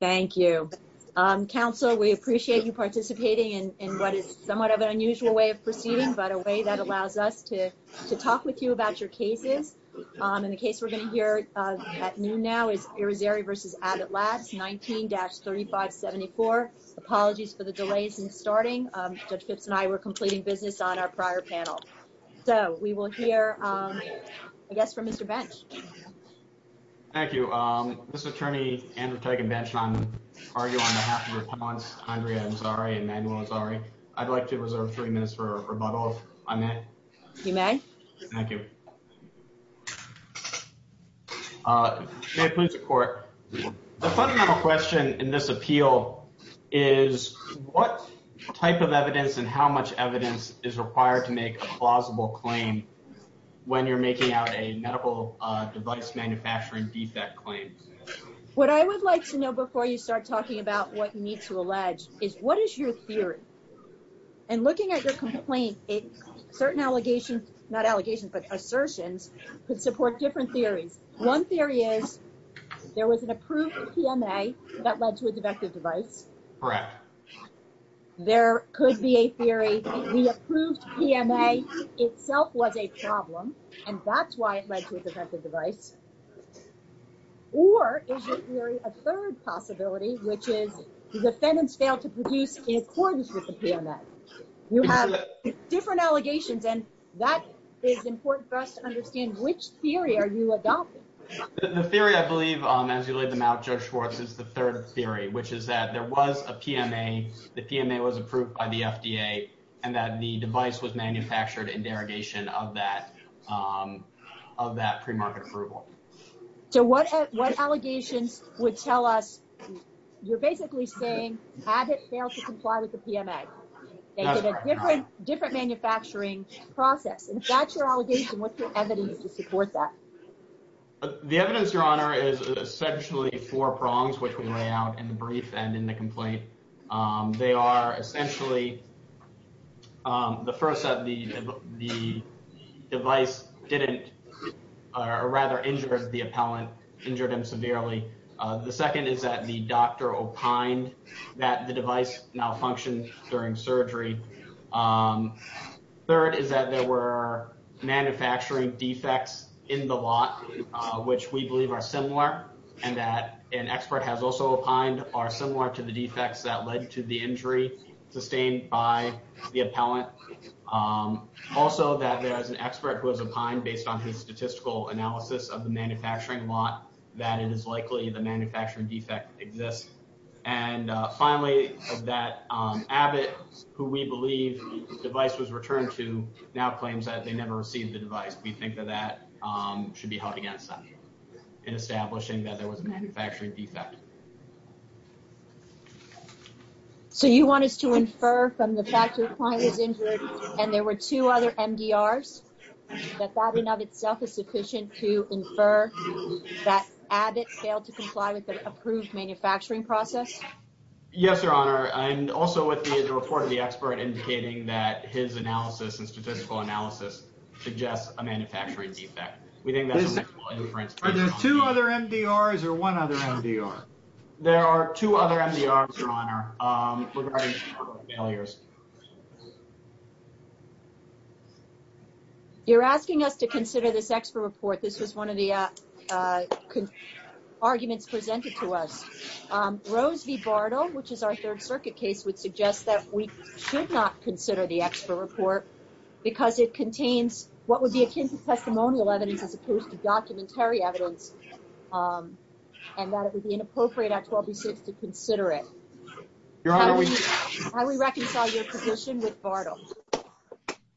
Thank you. Counsel, we appreciate you participating in what is somewhat of an unusual way of proceeding, but a way that allows us to to talk with you about your cases. And the case we're going to hear at noon now is Irizarry v. Abbott Labs, 19-3574. Apologies for the delays in starting. Judge Phipps and I were completing business on our prior panel. So we will hear, I guess, from Mr. Bench. Thank you. Mr. Attorney Andrew Teigenbensch and I argue on behalf of your clients, Andrea Azari and Manuel Azari. I'd like to reserve three minutes for rebuttal, if I may. You may. Thank you. May it please the Court. The fundamental question in this appeal is what type of evidence and how much evidence is required to make a plausible claim when you're making out a medical device manufacturing defect claim. What I would like to know before you start talking about what you need to allege is what is your theory? And looking at your complaint, certain allegations, not allegations, but assertions could support different theories. One theory is there was an approved PMA that led to a defective device. Correct. There could be a theory that the approved PMA itself was a problem and that's why it led to a defective device. Or is there a third possibility, which is the defendants failed to produce in accordance with the PMA. You have different allegations and that is important for us to understand which theory are you adopting. The theory, I believe, as you laid them out, Judge Schwartz, is the third theory, which is that there was a PMA, the PMA was approved by the FDA, and that the device was manufactured in derogation of that pre-market approval. So what allegations would tell us, you're basically saying Abbott failed to comply with the PMA. They did a different manufacturing process. If that's your allegation, what's your evidence to support that? The evidence, your honor, is essentially four prongs, which we lay out in the brief and in the complaint. They are, essentially, the first that the, the device didn't, or rather injured the appellant, injured him severely. The second is that the doctor opined that the device malfunctioned during surgery. Third is that there were manufacturing defects in the lot, which we believe are similar, and that an expert has also opined are similar to the defects that led to the injury sustained by the appellant. Also, that there is an expert who has opined, based on his statistical analysis of the manufacturing lot, that it is likely the manufacturing defect exists. And finally, that Abbott, who we believe the device was returned to, now we believe that that should be held against them in establishing that there was a manufacturing defect. So you want us to infer from the fact your client was injured and there were two other MDRs, that that in of itself is sufficient to infer that Abbott failed to comply with the approved manufacturing process? Yes, your honor, and also with the report of the expert indicating that his analysis and manufacturing defect. Are there two other MDRs or one other MDR? There are two other MDRs, your honor, regarding the failures. You're asking us to consider this expert report. This was one of the arguments presented to us. Rose V. Bartle, which is our Third Circuit case, would suggest that we should not consider the expert report because it contains what would be akin to testimonial evidence as opposed to documentary evidence, and that it would be inappropriate, Act 12B.6, to consider it. How do we reconcile your position with Bartle?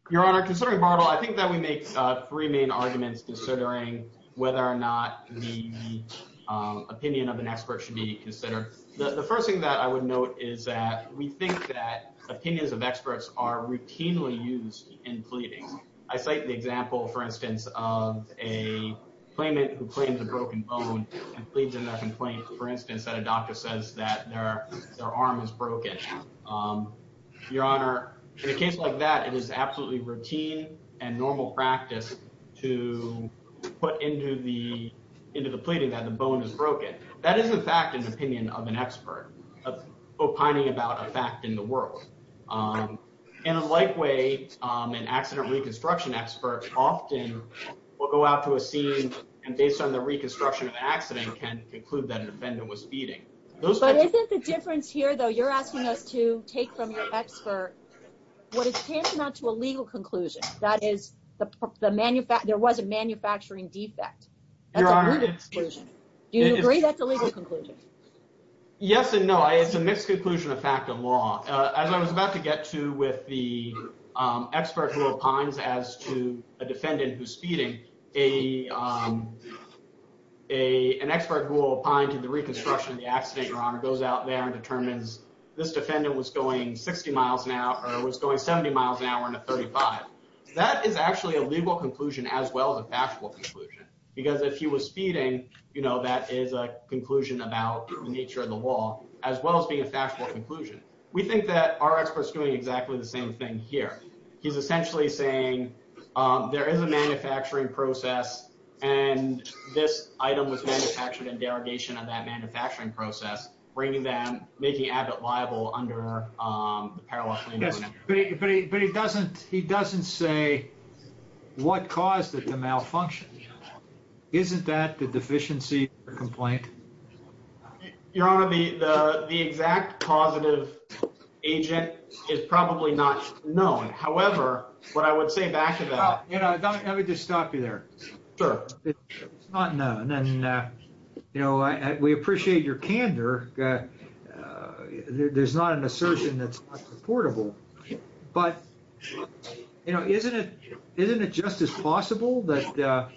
Your honor, considering Bartle, I think that we make three main arguments considering whether or not the opinion of an expert should be considered. The first thing that I would note is that we think that opinions of experts are different. Take the example, for instance, of a claimant who claims a broken bone and pleads in their complaint, for instance, that a doctor says that their arm is broken. Your honor, in a case like that, it is absolutely routine and normal practice to put into the pleading that the bone is broken. That is, in fact, an opinion of an expert opining about a fact in the world. In a like way, an accident reconstruction expert often will go out to a scene and, based on the reconstruction of the accident, can conclude that an offendant was feeding. But isn't the difference here, though, you're asking us to take from your expert what is tantamount to a legal conclusion, that is, there was a manufacturing defect. That's a legal conclusion. Do you agree that's a legal conclusion? Yes and no. It's a mixed conclusion of fact and law. As I was about to get to with the expert who opines as to a defendant who's feeding, an expert who will opine to the reconstruction of the accident, your honor, goes out there and determines this defendant was going 60 miles an hour or was going 70 miles an hour in a 35. That is actually a legal conclusion as well as a factual conclusion, because if he was feeding, you know, that is a conclusion about the nature of the law as well as being a factual conclusion. We think that our expert's doing exactly the same thing here. He's essentially saying there is a manufacturing process and this item was manufactured in derogation of that manufacturing process, bringing them, making Abbott liable under the Parallel Claims Amendment Act. But he doesn't say what caused it to malfunction. Isn't that the deficiency complaint? Your honor, the exact causative agent is probably not known. However, what I would say back to that. I would just stop you there. It's not known. We appreciate your candor. There's not an assertion that's not purportable, but isn't it just as possible that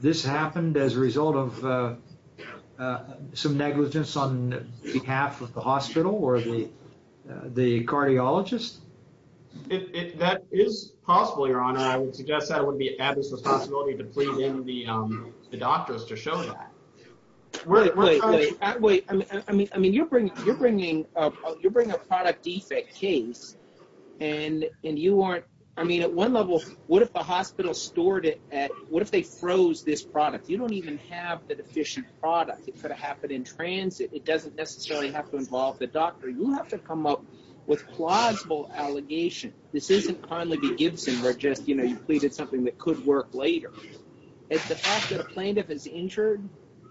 this happened as a result of some negligence on behalf of the hospital or the cardiologist? That is possible, your honor. I would suggest that would be Abbott's responsibility to plead in with the doctors to show that. Wait, wait, wait. I mean, you're bringing a product defect case and you aren't. I mean, at one level, what if the hospital stored it at, what if they froze this product? You don't even have the deficient product. It could have happened in transit. It doesn't necessarily have to involve the doctor. You have to come up with plausible allegation. This isn't Conley v. Gibson where just, you know, you pleaded something that could work later. It's the fact that a plaintiff is injured,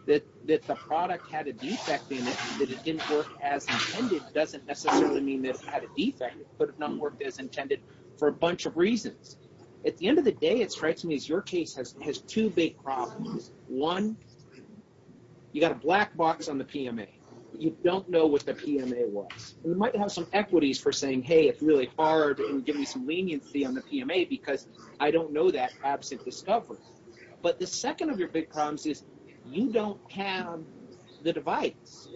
that the product had a defect in it, that it didn't work as intended doesn't necessarily mean that it had a defect. It could have not worked as intended for a bunch of reasons. At the end of the day, it strikes me as your case has two big problems. One, you got a black box on the PMA. You don't know what the PMA was. You might have some equities for saying, hey, it's really hard and give me some leniency on the PMA because I don't know that absent discovery. But the second of your big problems is you don't have the device.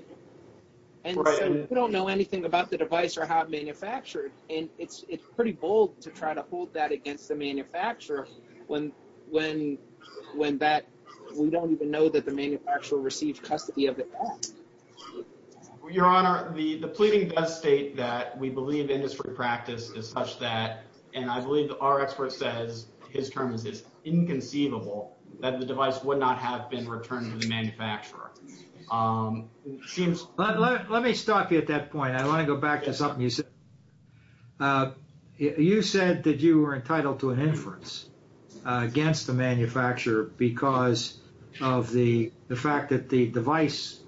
And so you don't know anything about the device or how it's manufactured. And it's pretty bold to try to hold that against the manufacturer when we don't even know that the manufacturer received custody of the product. Your Honor, the pleading does state that we believe industry practice is such that, and I believe our expert says his term is inconceivable, that the device would not have been returned to the manufacturer. Let me stop you at that point. I want to go back to something you said. You said that you were entitled to an inference against the manufacturer because of the fact that the device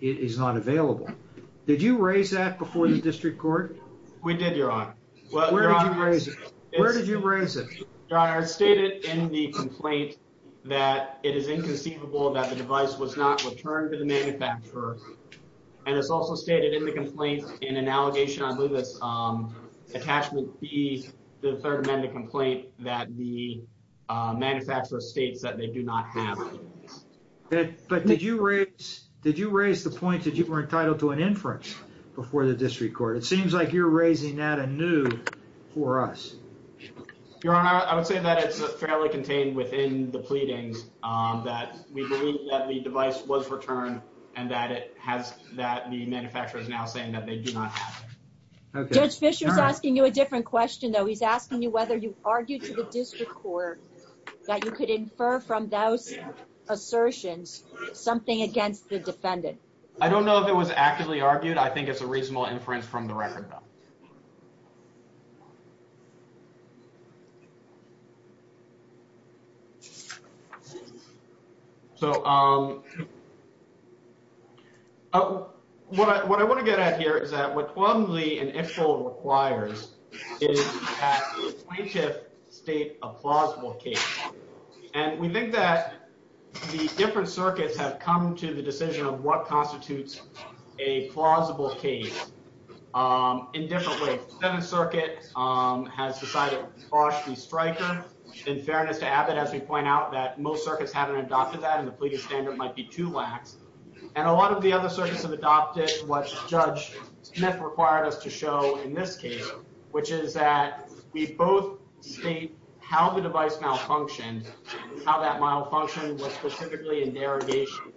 is not available. Did you raise that before the district court? We did, Your Honor. Where did you raise it? Your Honor, it's stated in the complaint that it is inconceivable that the device was not returned to the manufacturer. And it's also stated in the complaint in an allegation, I believe it's attachment B, the third amendment complaint, that the manufacturer states that they do not have it. But did you raise the point that you were entitled to an inference before the district court? It seems like you're raising that anew for us. Your Honor, I would say that it's fairly contained within the pleadings that we believe that the device was returned and that the manufacturer is now saying that they do not have it. Judge Fischer is asking you a different question, though. He's asking you whether you argued to the district court that you could infer from those assertions something against the defendant. I don't know if it was actively argued. I think it's a reasonable inference from the record, though. So, what I want to get at here is that what 12 and Lee and Ifill requires is that plaintiff state a plausible case. And we think that the different circuits have come to the decision of what constitutes a plausible case in different ways. The Seventh Circuit has decided Bosh v. Stryker. In fairness to Abbott, as we point out, that most circuits haven't adopted that and the pleading standard might be too lax. And a lot of the other circuits have adopted what Judge Smith required us to show in this case, which is that we both state how the device malfunctioned, how that malfunction was specifically in derogation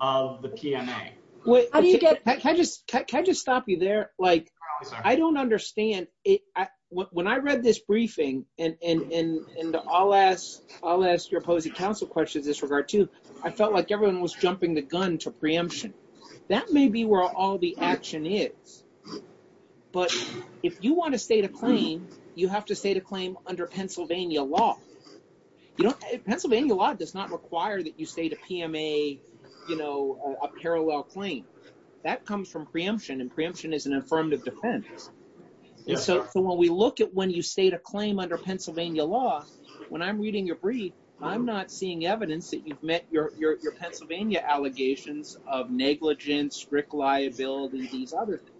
of the PMA. Can I just stop you there? I don't understand. When I read this briefing, and I'll ask your opposing counsel questions in this regard, too, I felt like everyone was jumping the gun to preemption. That may be where all the action is, but if you want to state a claim, you have to state a claim under Pennsylvania law. Pennsylvania law does not require that you state a PMA, a parallel claim. That comes from preemption, and preemption is an affirmative defense. So when we look at when you state a claim under Pennsylvania law, when I'm reading your brief, I'm not seeing evidence that you've met your Pennsylvania allegations of negligence, strict liability, these other things.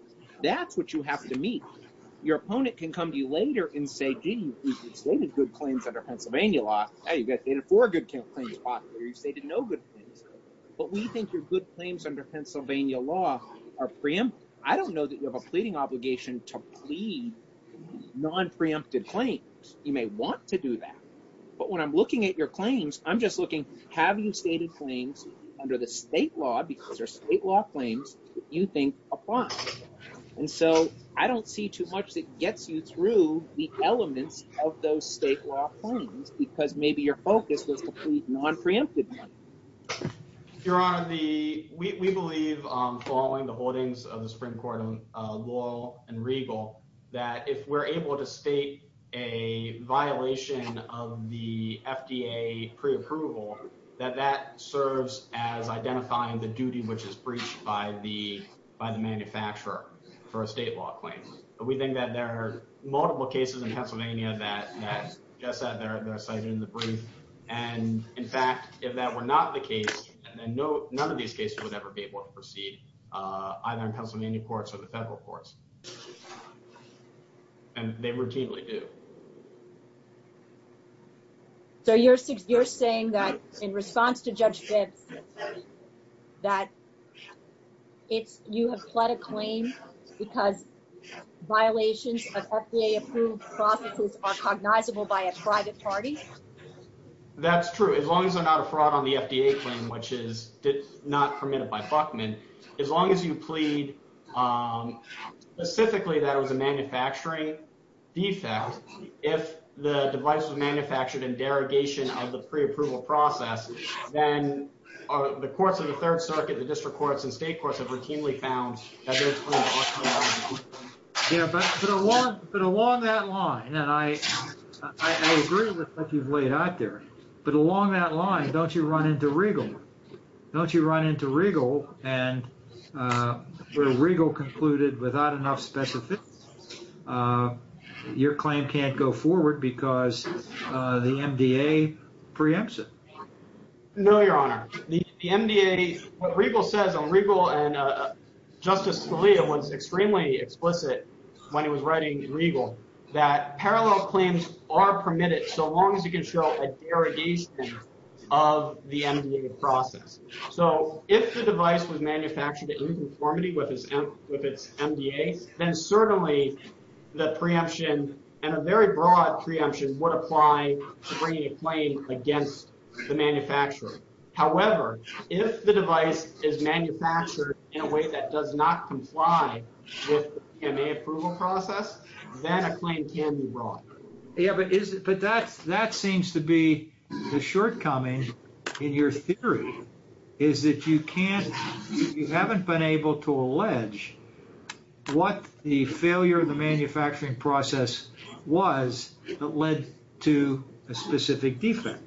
That's what you have to meet. Your opponent can come to you later and say, gee, you stated good claims under Pennsylvania law. Hey, you've got stated four good claims possibly, or you've stated no good claims. But we think your good claims under Pennsylvania law are preemptive. I don't know that you have a pleading obligation to plead non-preemptive claims. You may want to do that. But when I'm looking at your claims, I'm just looking, have you stated claims under the state law because they're state law claims that you think apply? And so I don't see too much that gets you through the elements of those state law claims because maybe your focus was to plead non-preemptive money. Your Honor, we believe, following the holdings of the Supreme Court law and regal, that if we're able to state a violation of the FDA preapproval, that that serves as identifying the duty which is breached by the manufacturer for a state law claim. We think that there are multiple cases in Pennsylvania that are cited in the brief. And in fact, if that were not the case, then none of these cases would ever be able to proceed, either in Pennsylvania courts or the federal courts. And they routinely do. So you're saying that in response to Judge Vips, that you have pled a claim because violations of FDA-approved processes are cognizable by a private party? That's true. As long as they're not a fraud on the FDA claim, which is not permitted by Buckman, as long as you plead specifically that it was a manufacturing defect, if the device was manufactured in derogation of the preapproval process, then the courts of the Third Circuit, the district courts, and state courts have routinely found that there's a claim. Yeah, but along that line, and I agree with what you've laid out there, but along that line, don't you run into regal? Don't you run into regal and where regal concluded without enough specifics, your claim can't go forward because the MDA preempts it? No, Your Honor. The MDA, what regal says on regal, and Justice Scalia was extremely explicit when he was writing regal, that parallel claims are permitted so long as you can show a derogation of the MDA process. So, if the device was manufactured in conformity with its MDA, then certainly the preemption and a very broad preemption would apply to bringing a claim against the manufacturer. However, if the device is manufactured in a way that does not comply with the PMA approval process, then a claim can be brought. Yeah, but that seems to be the shortcoming in your theory, is that you haven't been able to allege what the failure of the manufacturing process was that led to a specific defect.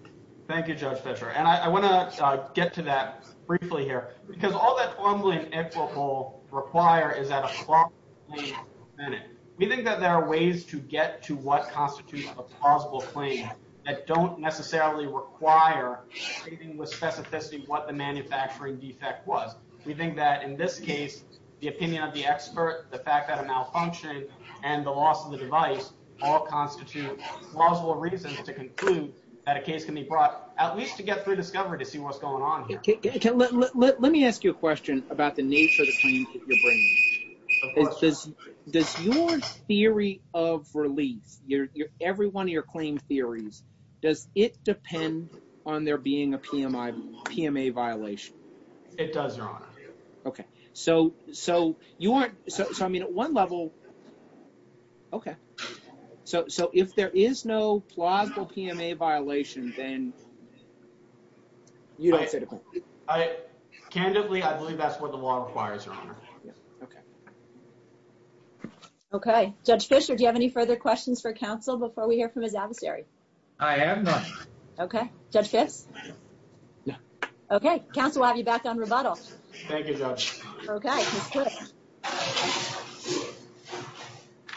Thank you, Judge Fischer. And I want to get to that briefly here, because all that fumbling and equivocal require is that a plausible claim is permitted. We think that there are ways to get to what constitutes a plausible claim that don't necessarily require anything with specificity what the manufacturing defect was. We think that, in this case, the opinion of the expert, the fact that it malfunctioned, and the loss of the device all constitute plausible reasons to conclude that a case can be brought, at least to get through discovery to see what's going on here. Let me ask you a question about the nature of the claims that you're bringing. Does your theory of relief, every one of your claim theories, does it depend on there being a PMA violation? It does, Your Honor. Okay, so you aren't, so I mean at one level, okay, so if there is no plausible PMA violation, then you don't say the point. Candidly, I believe that's what the law requires, Your Honor. Okay. Okay, Judge Fischer, do you have any further questions for counsel before we hear from his adversary? I have none. Okay, Judge Fitz? No. Okay, counsel, we'll have you back on rebuttal. Thank you, Judge. Okay, Ms. Fitz.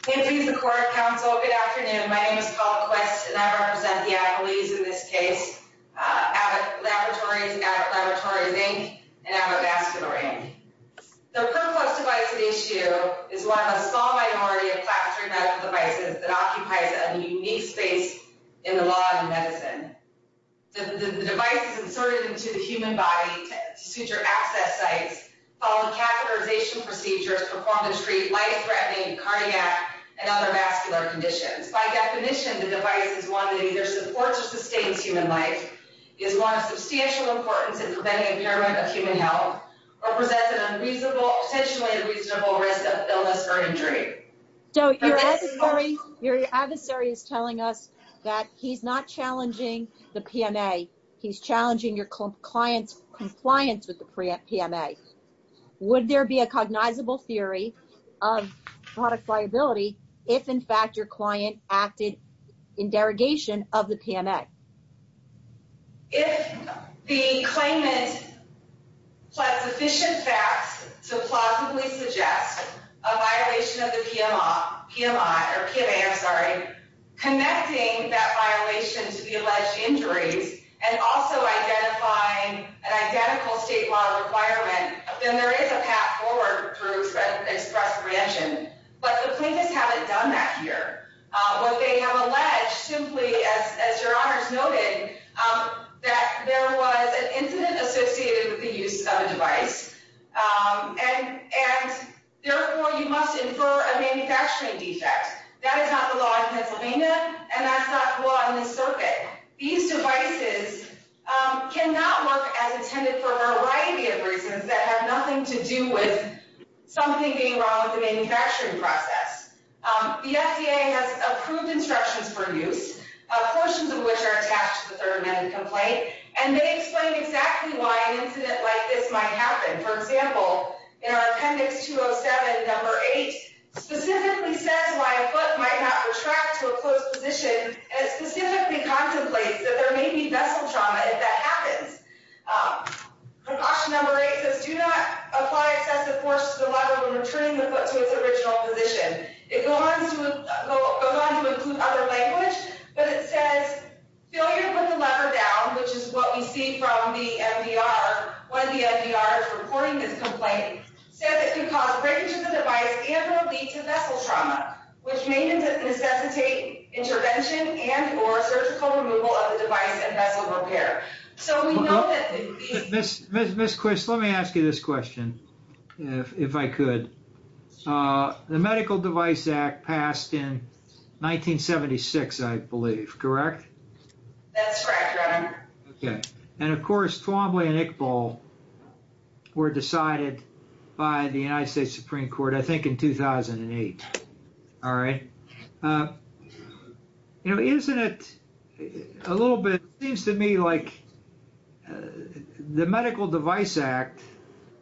Good afternoon, the court, counsel, good afternoon. My name is Paula Quest, and I represent the accolades in this case, Abbott Laboratories, Abbott Laboratories, Inc., and Abbott Vascular, Inc. The perplexed device at issue is one of the small minority of plastering medical devices that occupies a unique space in the law of medicine. The device is inserted into the human body to suit your access sites, following catheterization procedures to perform and treat life-threatening cardiac and other vascular conditions. By definition, the device is one that either supports or sustains human life, is one of substantial importance in preventing impairment of human health, or presents a potentially unreasonable risk of illness or injury. So your adversary is telling us that he's not challenging the PMA, he's challenging your client's compliance with the PMA. Would there be a cognizable theory of product liability if, in fact, your client acted in derogation of the PMA? If the claimant pled sufficient facts to plausibly suggest a violation of the PMA, connecting that violation to the alleged injuries and also identifying an identical state law requirement, then there is a path forward through express reaction. But the plaintiffs haven't done that here. What they have alleged, simply, as your honors noted, that there was an incident associated with the use of a device, and, therefore, you must infer a manufacturing defect. That is not the law in Pennsylvania, and that's not the law in this circuit. These devices cannot work as intended for a variety of reasons that have nothing to do with something being wrong with the manufacturing process. The FDA has approved instructions for use, portions of which are attached to the third amendment complaint, and they explain exactly why an incident like this might happen. For example, in our appendix 207, number 8, specifically says why a foot might not retract to a closed position, and it specifically contemplates that there may be vessel trauma if that happens. Precaution number 8 says do not apply excessive force to the lever when returning the foot to its original position. It goes on to include other language, but it says failure to put the lever down, which is what we see from the MDR when the MDR is reporting this complaint, says it can cause breakage of the device and will lead to vessel trauma, which may necessitate intervention and or surgical removal of the device and vessel repair. Ms. Quist, let me ask you this question, if I could. The Medical Device Act passed in 1976, I believe, correct? That's right, Governor. Okay. And, of course, Twombly and Iqbal were decided by the United States Supreme Court, I think, in 2008, all right? You know, isn't it a little bit, it seems to me like the Medical Device Act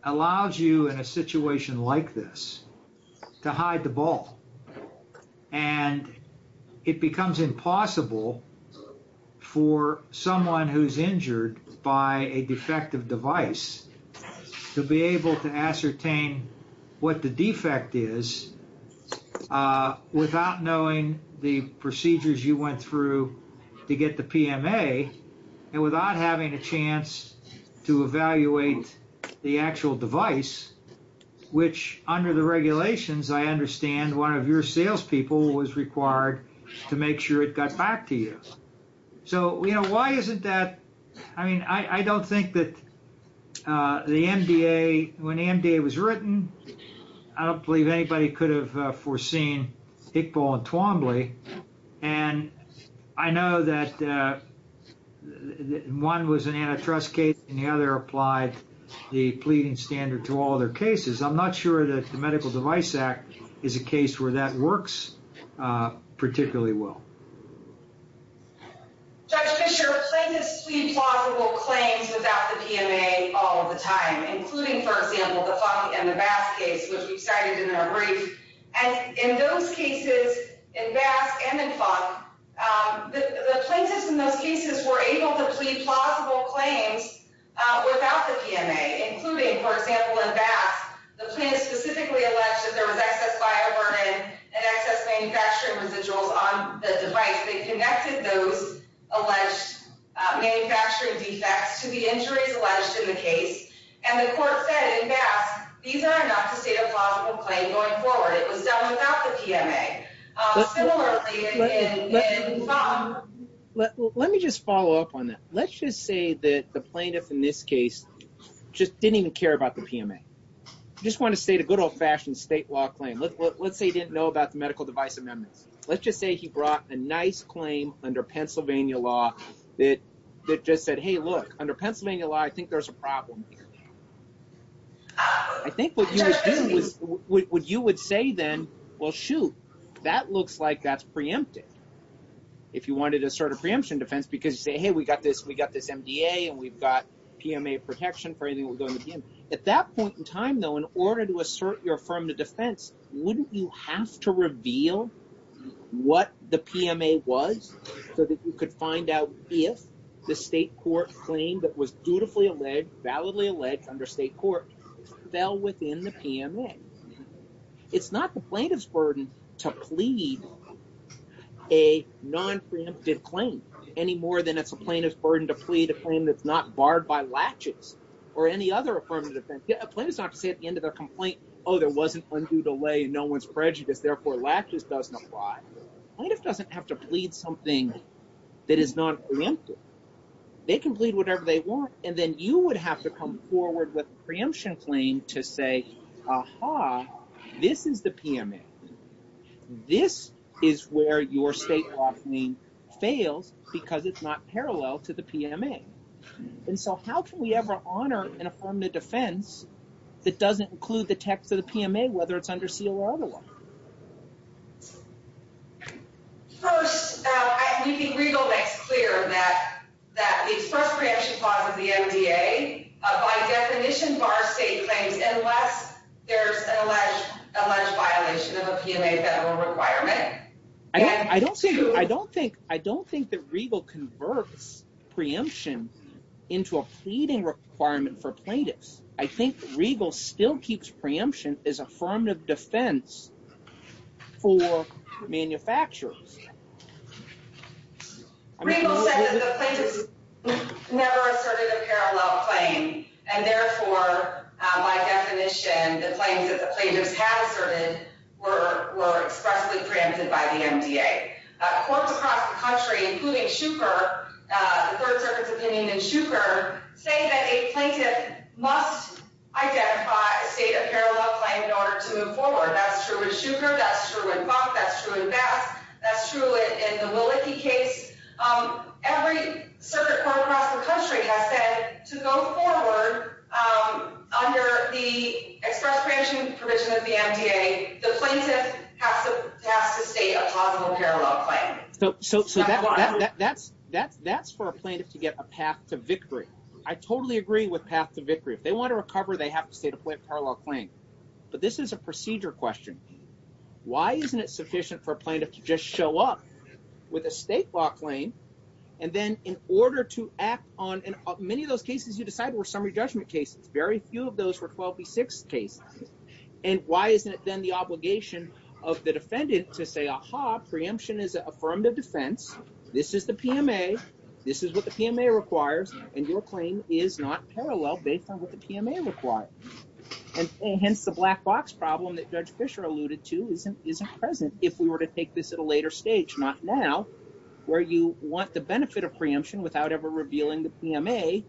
allows you in a situation like this to hide the ball, and it becomes impossible for someone who's injured by a defective device to be able to ascertain what the defect is without knowing the procedures you went through to get the PMA and without having a chance to evaluate the actual device, which under the regulations, I understand, one of your salespeople was required to make sure it got back to you. So, you know, why isn't that, I mean, I don't think that the MDA, when the MDA was written, I don't believe anybody could have foreseen Iqbal and Twombly, and I know that one was an antitrust case and the other applied the pleading standard to all their cases. I'm not sure that the Medical Device Act is a case where that works particularly well. Judge Fischer, plaintiffs plead plausible claims without the PMA all of the time, including, for example, the Funk and the Basque case, which we cited in our brief. And in those cases, in Basque and in Funk, the plaintiffs in those cases were able to plead plausible claims without the PMA, including, for example, in Basque, the plaintiffs specifically alleged that there was excess bioburden and excess manufacturing residuals on the device. They connected those alleged manufacturing defects to the injuries alleged in the case, and the court said in Basque these are enough to state a plausible claim going forward. It was done without the PMA. Similarly, in Funk. Let me just follow up on that. Let's just say that the plaintiff in this case just didn't even care about the PMA. I just want to state a good old-fashioned state law claim. Let's say he didn't know about the medical device amendments. Let's just say he brought a nice claim under Pennsylvania law that just said, hey, look, under Pennsylvania law, I think there's a problem here. I think what you would do is what you would say then, well, shoot, that looks like that's preempted. If you wanted to start a preemption defense because you say, hey, we got this MDA, and we've got PMA protection for anything that would go in the PMA. At that point in time, though, in order to assert your affirmative defense, wouldn't you have to reveal what the PMA was so that you could find out if the state court claim that was dutifully alleged, validly alleged under state court fell within the PMA? It's not the plaintiff's burden to plead a nonpreemptive claim any more than it's a plaintiff's burden to plead a claim that's not barred by laches or any other affirmative defense. A plaintiff's not to say at the end of their complaint, oh, there wasn't undue delay, no one's prejudiced, therefore laches doesn't apply. A plaintiff doesn't have to plead something that is not preemptive. They can plead whatever they want, and then you would have to come forward with a preemption claim to say, aha, this is the PMA. This is where your state law claim fails because it's not parallel to the PMA. And so how can we ever honor an affirmative defense that doesn't include the text of the PMA, whether it's under seal or otherwise? First, you can be legal next clear that the first preemption clause of the MDA, by definition, bars state claims unless there's an alleged violation of a PMA federal requirement. I don't think that Regal converts preemption into a pleading requirement for plaintiffs. I think Regal still keeps preemption as affirmative defense for manufacturers. Regal says that the plaintiffs never asserted a parallel claim, and therefore, by definition, the claims that the plaintiffs have asserted were expressly preempted by the MDA. Courts across the country, including Shuker, the Third Circuit's opinion in Shuker, say that a plaintiff must identify a state of parallel claim in order to move forward. That's true in Shuker, that's true in Buck, that's true in Bass, that's true in the Malicki case. Every circuit court across the country has said to go forward under the express preemption provision of the MDA. The plaintiff has to state a possible parallel claim. So that's for a plaintiff to get a path to victory. I totally agree with path to victory. If they want to recover, they have to state a parallel claim. But this is a procedure question. Why isn't it sufficient for a plaintiff to just show up with a state law claim, and then in order to act on, and many of those cases you decided were summary judgment cases. Very few of those were 12b6 cases. And why isn't it then the obligation of the defendant to say, aha, preemption is affirmative defense, this is the PMA, this is what the PMA requires, and your claim is not parallel based on what the PMA requires. And hence the black box problem that Judge Fischer alluded to isn't present. If we were to take this at a later stage, not now, where you want the benefit of preemption without ever revealing the PMA.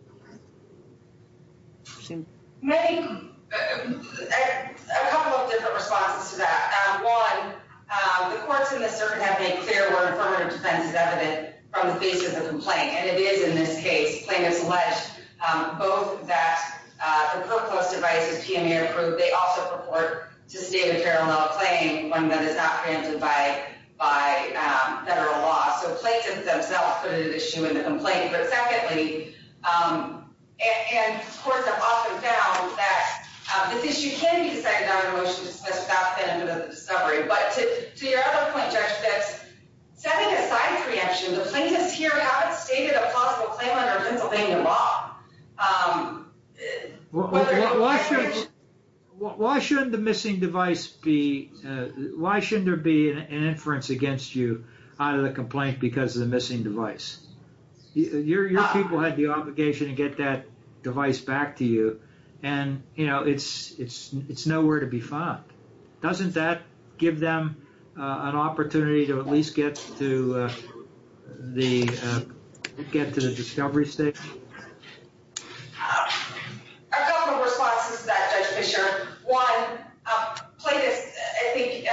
I have a couple of different responses to that. One, the courts in this circuit have made clear where affirmative defense is evident from the basis of the complaint. And it is in this case. Plaintiffs allege both that the ProClose device is PMA approved. They also purport to state a parallel claim, one that is not granted by federal law. So plaintiffs themselves put an issue in the complaint. But secondly, and courts have often found that this issue can be decided on in a motion to dismiss without the benefit of discovery. But to your other point, Judge, that's setting aside preemption, the plaintiffs here haven't stated a possible claim under Pennsylvania law. Why shouldn't the missing device be, why shouldn't there be an inference against you out of the complaint because of the missing device? Your people had the obligation to get that device back to you. Doesn't that give them an opportunity to at least get to the discovery stage? I have a couple of responses to that, Judge Fischer. One, plaintiffs, I think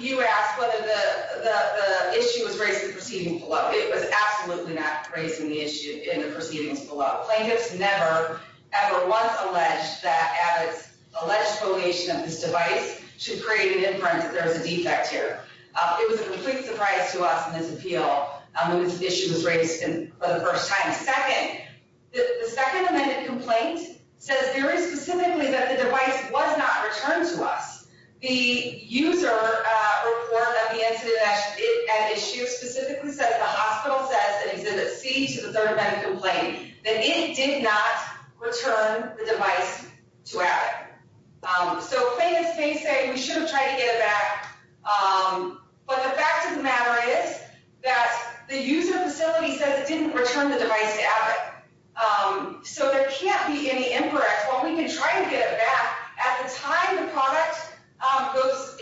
you asked whether the issue was raised in the proceedings below. It was absolutely not raised in the proceedings below. Plaintiffs never, ever once alleged that Abbott's alleged foliation of this device should create an inference that there is a defect here. It was a complete surprise to us in this appeal when this issue was raised for the first time. Second, the second amended complaint says very specifically that the device was not returned to us. The user report that we entered in that issue specifically says, that the hospital says that Exhibit C to the third amended complaint, that it did not return the device to Abbott. So plaintiffs may say we should have tried to get it back, but the fact of the matter is that the user facility says it didn't return the device to Abbott, so there can't be any imporrect. While we can try to get it back, at the time the product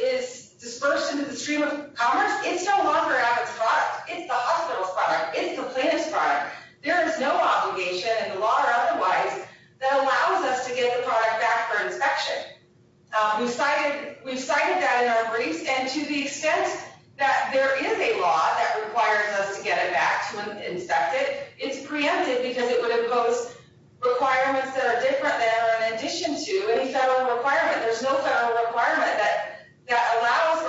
is dispersed into the stream of commerce, it's no longer Abbott's product. It's the hospital's product. It's the plaintiff's product. There is no obligation in the law or otherwise that allows us to get the product back for inspection. We've cited that in our briefs, and to the extent that there is a law that requires us to get it back to inspect it, it's preempted because it would impose requirements that are different than or in addition to any federal requirement. There's no federal requirement that allows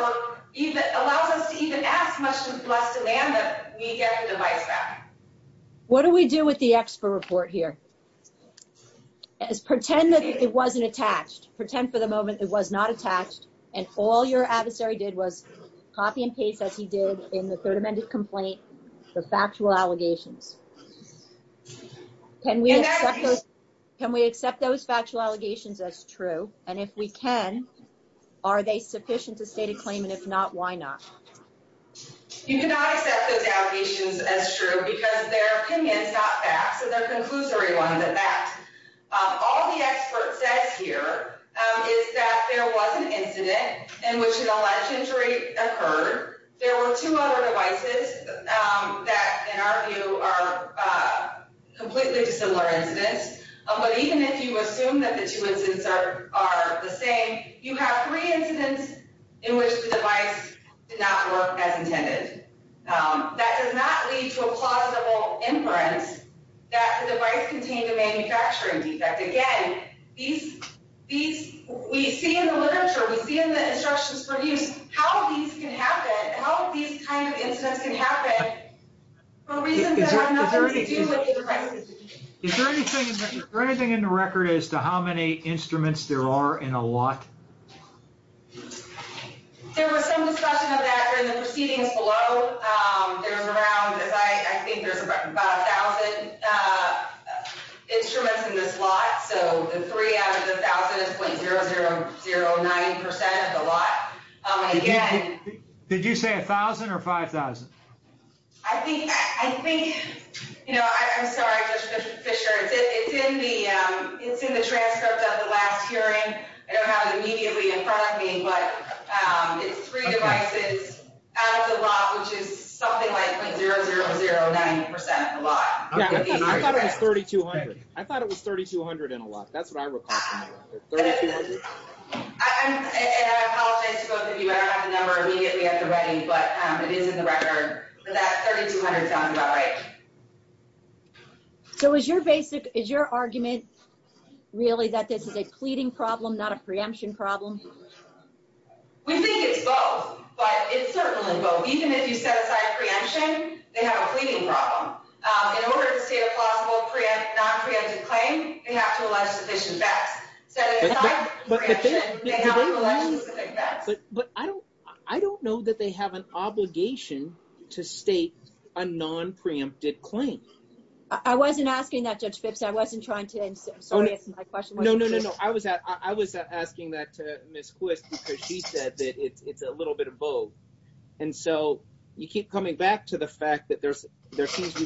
us to even ask much less demand that we get the device back. What do we do with the expert report here? Pretend that it wasn't attached. Pretend for the moment it was not attached, and all your adversary did was copy and paste, as he did in the third amended complaint, the factual allegations. Can we accept those factual allegations as true? And if we can, are they sufficient to state a claim? And if not, why not? You cannot accept those allegations as true because their opinion is not fact, so they're conclusory ones at that. All the expert says here is that there was an incident in which an alleged injury occurred. There were two other devices that, in our view, are completely dissimilar incidents. But even if you assume that the two incidents are the same, you have three incidents in which the device did not work as intended. That does not lead to a plausible inference that the device contained a manufacturing defect. Again, we see in the literature, we see in the instructions for use how these can happen, for reasons that have nothing to do with either practice. Is there anything in the record as to how many instruments there are in a lot? There was some discussion of that during the proceedings below. There's around, I think there's about 1,000 instruments in this lot. So the three out of the 1,000 is .0009% of the lot. Did you say 1,000 or 5,000? I think, you know, I'm sorry, Judge Fisher. It's in the transcript of the last hearing. I don't have it immediately in front of me. But it's three devices out of the lot, which is something like .0009% of the lot. I thought it was 3,200. I thought it was 3,200 in a lot. That's what I recall from the record, 3,200. And I apologize to both of you. I don't have the number immediately at the ready, but it is in the record. But that 3,200 sounds about right. So is your argument really that this is a pleading problem, not a preemption problem? We think it's both, but it's certainly both. Even if you set aside preemption, they have a pleading problem. In order to state a plausible non-preemptive claim, they have to allege sufficient facts. But I don't know that they have an obligation to state a non-preemptive claim. I wasn't asking that, Judge Phipps. I wasn't trying to answer. No, no, no, no. I was asking that to Ms. Quist because she said that it's a little bit of both. And so you keep coming back to the fact that there seems to be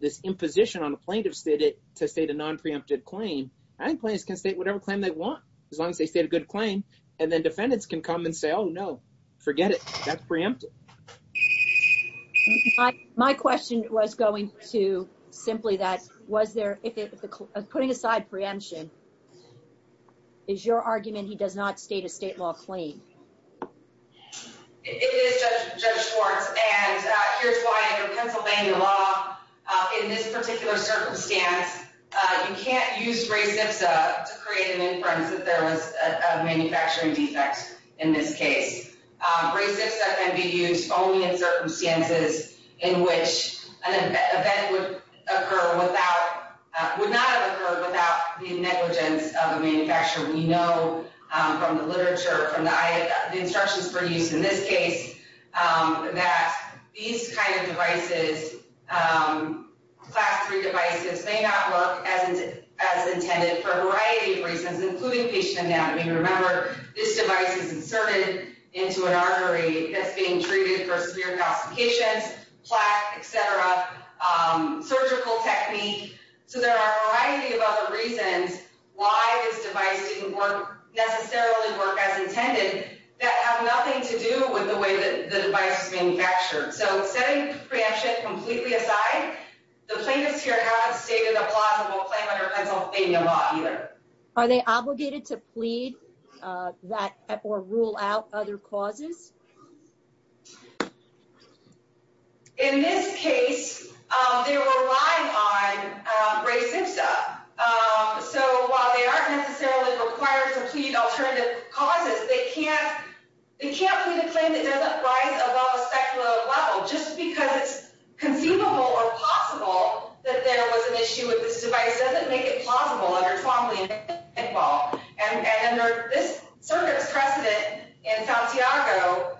this imposition on a plaintiff to state a non-preemptive claim. Plaintiffs can state whatever claim they want as long as they state a good claim. And then defendants can come and say, oh, no, forget it. That's preemptive. My question was going to simply that. Was there, putting aside preemption, is your argument he does not state a state law claim? It is, Judge Schwartz. And here's why. Under Pennsylvania law, in this particular circumstance, you can't use res ipsa to create an inference that there was a manufacturing defect in this case. Res ipsa can be used only in circumstances in which an event would occur without, would not have occurred without the negligence of the manufacturer. We know from the literature, from the instructions for use in this case, that these kind of devices, class 3 devices, may not work as intended for a variety of reasons, including patient anatomy. Remember, this device is inserted into an artery that's being treated for severe complications, plaque, et cetera, surgical technique. So there are a variety of other reasons why this device didn't necessarily work as intended that have nothing to do with the way the device is manufactured. So setting preemption completely aside, the plaintiffs here haven't stated a plausible claim under Pennsylvania law either. Are they obligated to plead or rule out other causes? In this case, they're relying on res ipsa. So while they aren't necessarily required to plead alternative causes, they can't plead a claim that doesn't rise above a speculative level. Just because it's conceivable or possible that there was an issue with this device doesn't make it plausible under Twombly and Pickball. And under this circuit's precedent in Santiago,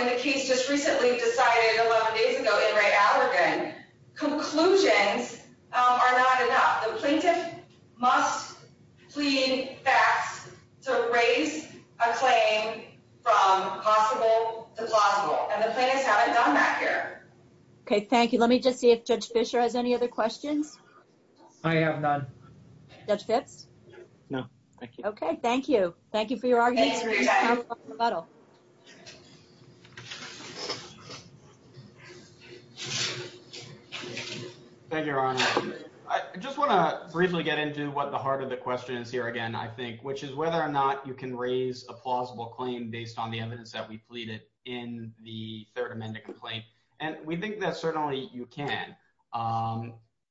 in the case just recently decided 11 days ago in Ray Allergan, conclusions are not enough. The plaintiff must plead facts to raise a claim from possible to plausible. And the plaintiffs haven't done that here. Okay, thank you. Let me just see if Judge Fischer has any other questions. I have none. Judge Fitz? No, thank you. Okay, thank you. Thank you for your argument. Thanks for your time. Thank you, Your Honor. I just want to briefly get into what the heart of the question is here again, I think, which is whether or not you can raise a plausible claim based on the evidence that we pleaded in the Third Amendment complaint. And we think that certainly you can.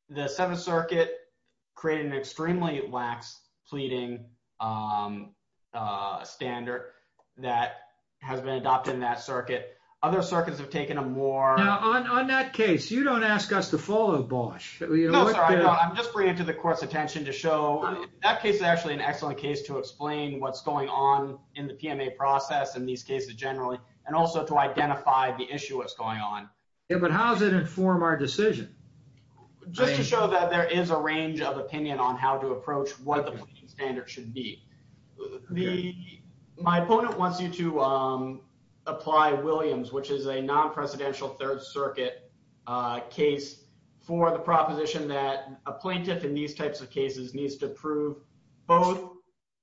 The Seventh Circuit created an extremely lax pleading standard that has been adopted in that circuit. Other circuits have taken a more… Now, on that case, you don't ask us to follow, Bosch. No, sir, I don't. I'm just bringing it to the court's attention to show that case is actually an excellent case to explain what's going on in the PMA process and these cases generally, and also to identify the issue that's going on. Yeah, but how does it inform our decision? Just to show that there is a range of opinion on how to approach what the standard should be. My opponent wants you to apply Williams, which is a non-presidential Third Circuit case for the proposition that a plaintiff in these types of cases needs to prove both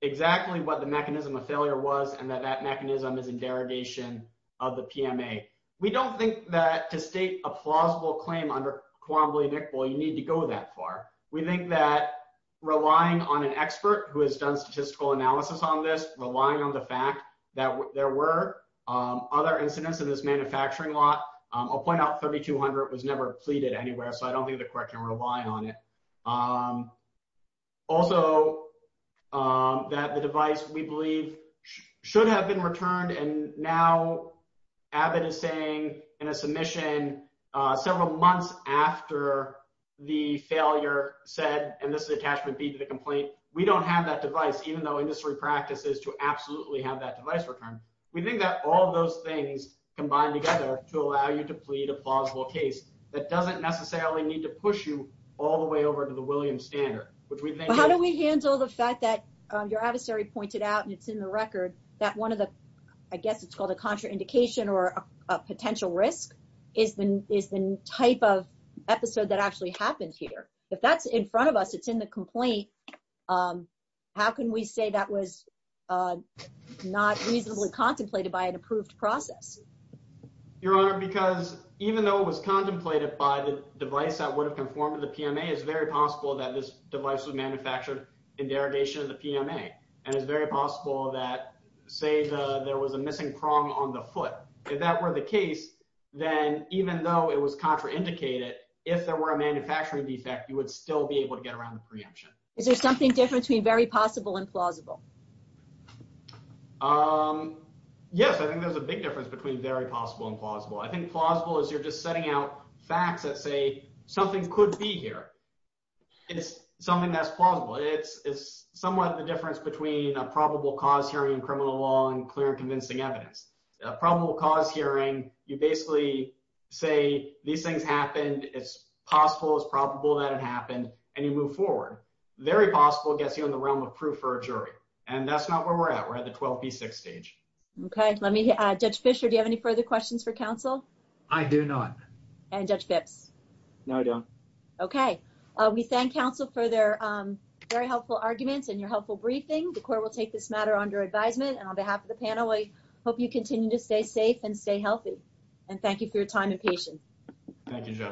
exactly what the mechanism of failure was and that that mechanism is in derogation of the PMA. We don't think that to state a plausible claim under quorum of the amicable, you need to go that far. We think that relying on an expert who has done statistical analysis on this, relying on the fact that there were other incidents in this manufacturing lot—I'll point out 3200 was never pleaded anywhere, so I don't think the court can rely on it. Also, that the device, we believe, should have been returned, and now Abbott is saying in a submission several months after the failure said—and this is attachment B to the complaint—we don't have that device, even though industry practice is to absolutely have that device returned. We think that all those things combine together to allow you to plead a plausible case that doesn't necessarily need to push you all the way over to the Williams standard. How do we handle the fact that your adversary pointed out, and it's in the record, that one of the—I guess it's called a contraindication or a potential risk is the type of episode that actually happened here? If that's in front of us, it's in the complaint, how can we say that was not reasonably contemplated by an approved process? Your Honor, because even though it was contemplated by the device that would have conformed to the PMA, it's very possible that this device was manufactured in derogation of the PMA, and it's very possible that, say, there was a missing prong on the foot. If that were the case, then even though it was contraindicated, if there were a manufacturing defect, you would still be able to get around the preemption. Is there something different between very possible and plausible? Yes, I think there's a big difference between very possible and plausible. I think plausible is you're just setting out facts that say something could be here. It's something that's plausible. It's somewhat the difference between a probable cause hearing in criminal law and clear and convincing evidence. A probable cause hearing, you basically say these things happened. It's possible, it's probable that it happened, and you move forward. Very possible gets you in the realm of proof for a jury, and that's not where we're at. We're at the 12B6 stage. Okay. Judge Fischer, do you have any further questions for counsel? I do not. And Judge Phipps? No, I don't. Okay. We thank counsel for their very helpful arguments and your helpful briefing. The court will take this matter under advisement, and on behalf of the panel, I hope you continue to stay safe and stay healthy, and thank you for your time and patience. Thank you, Judge.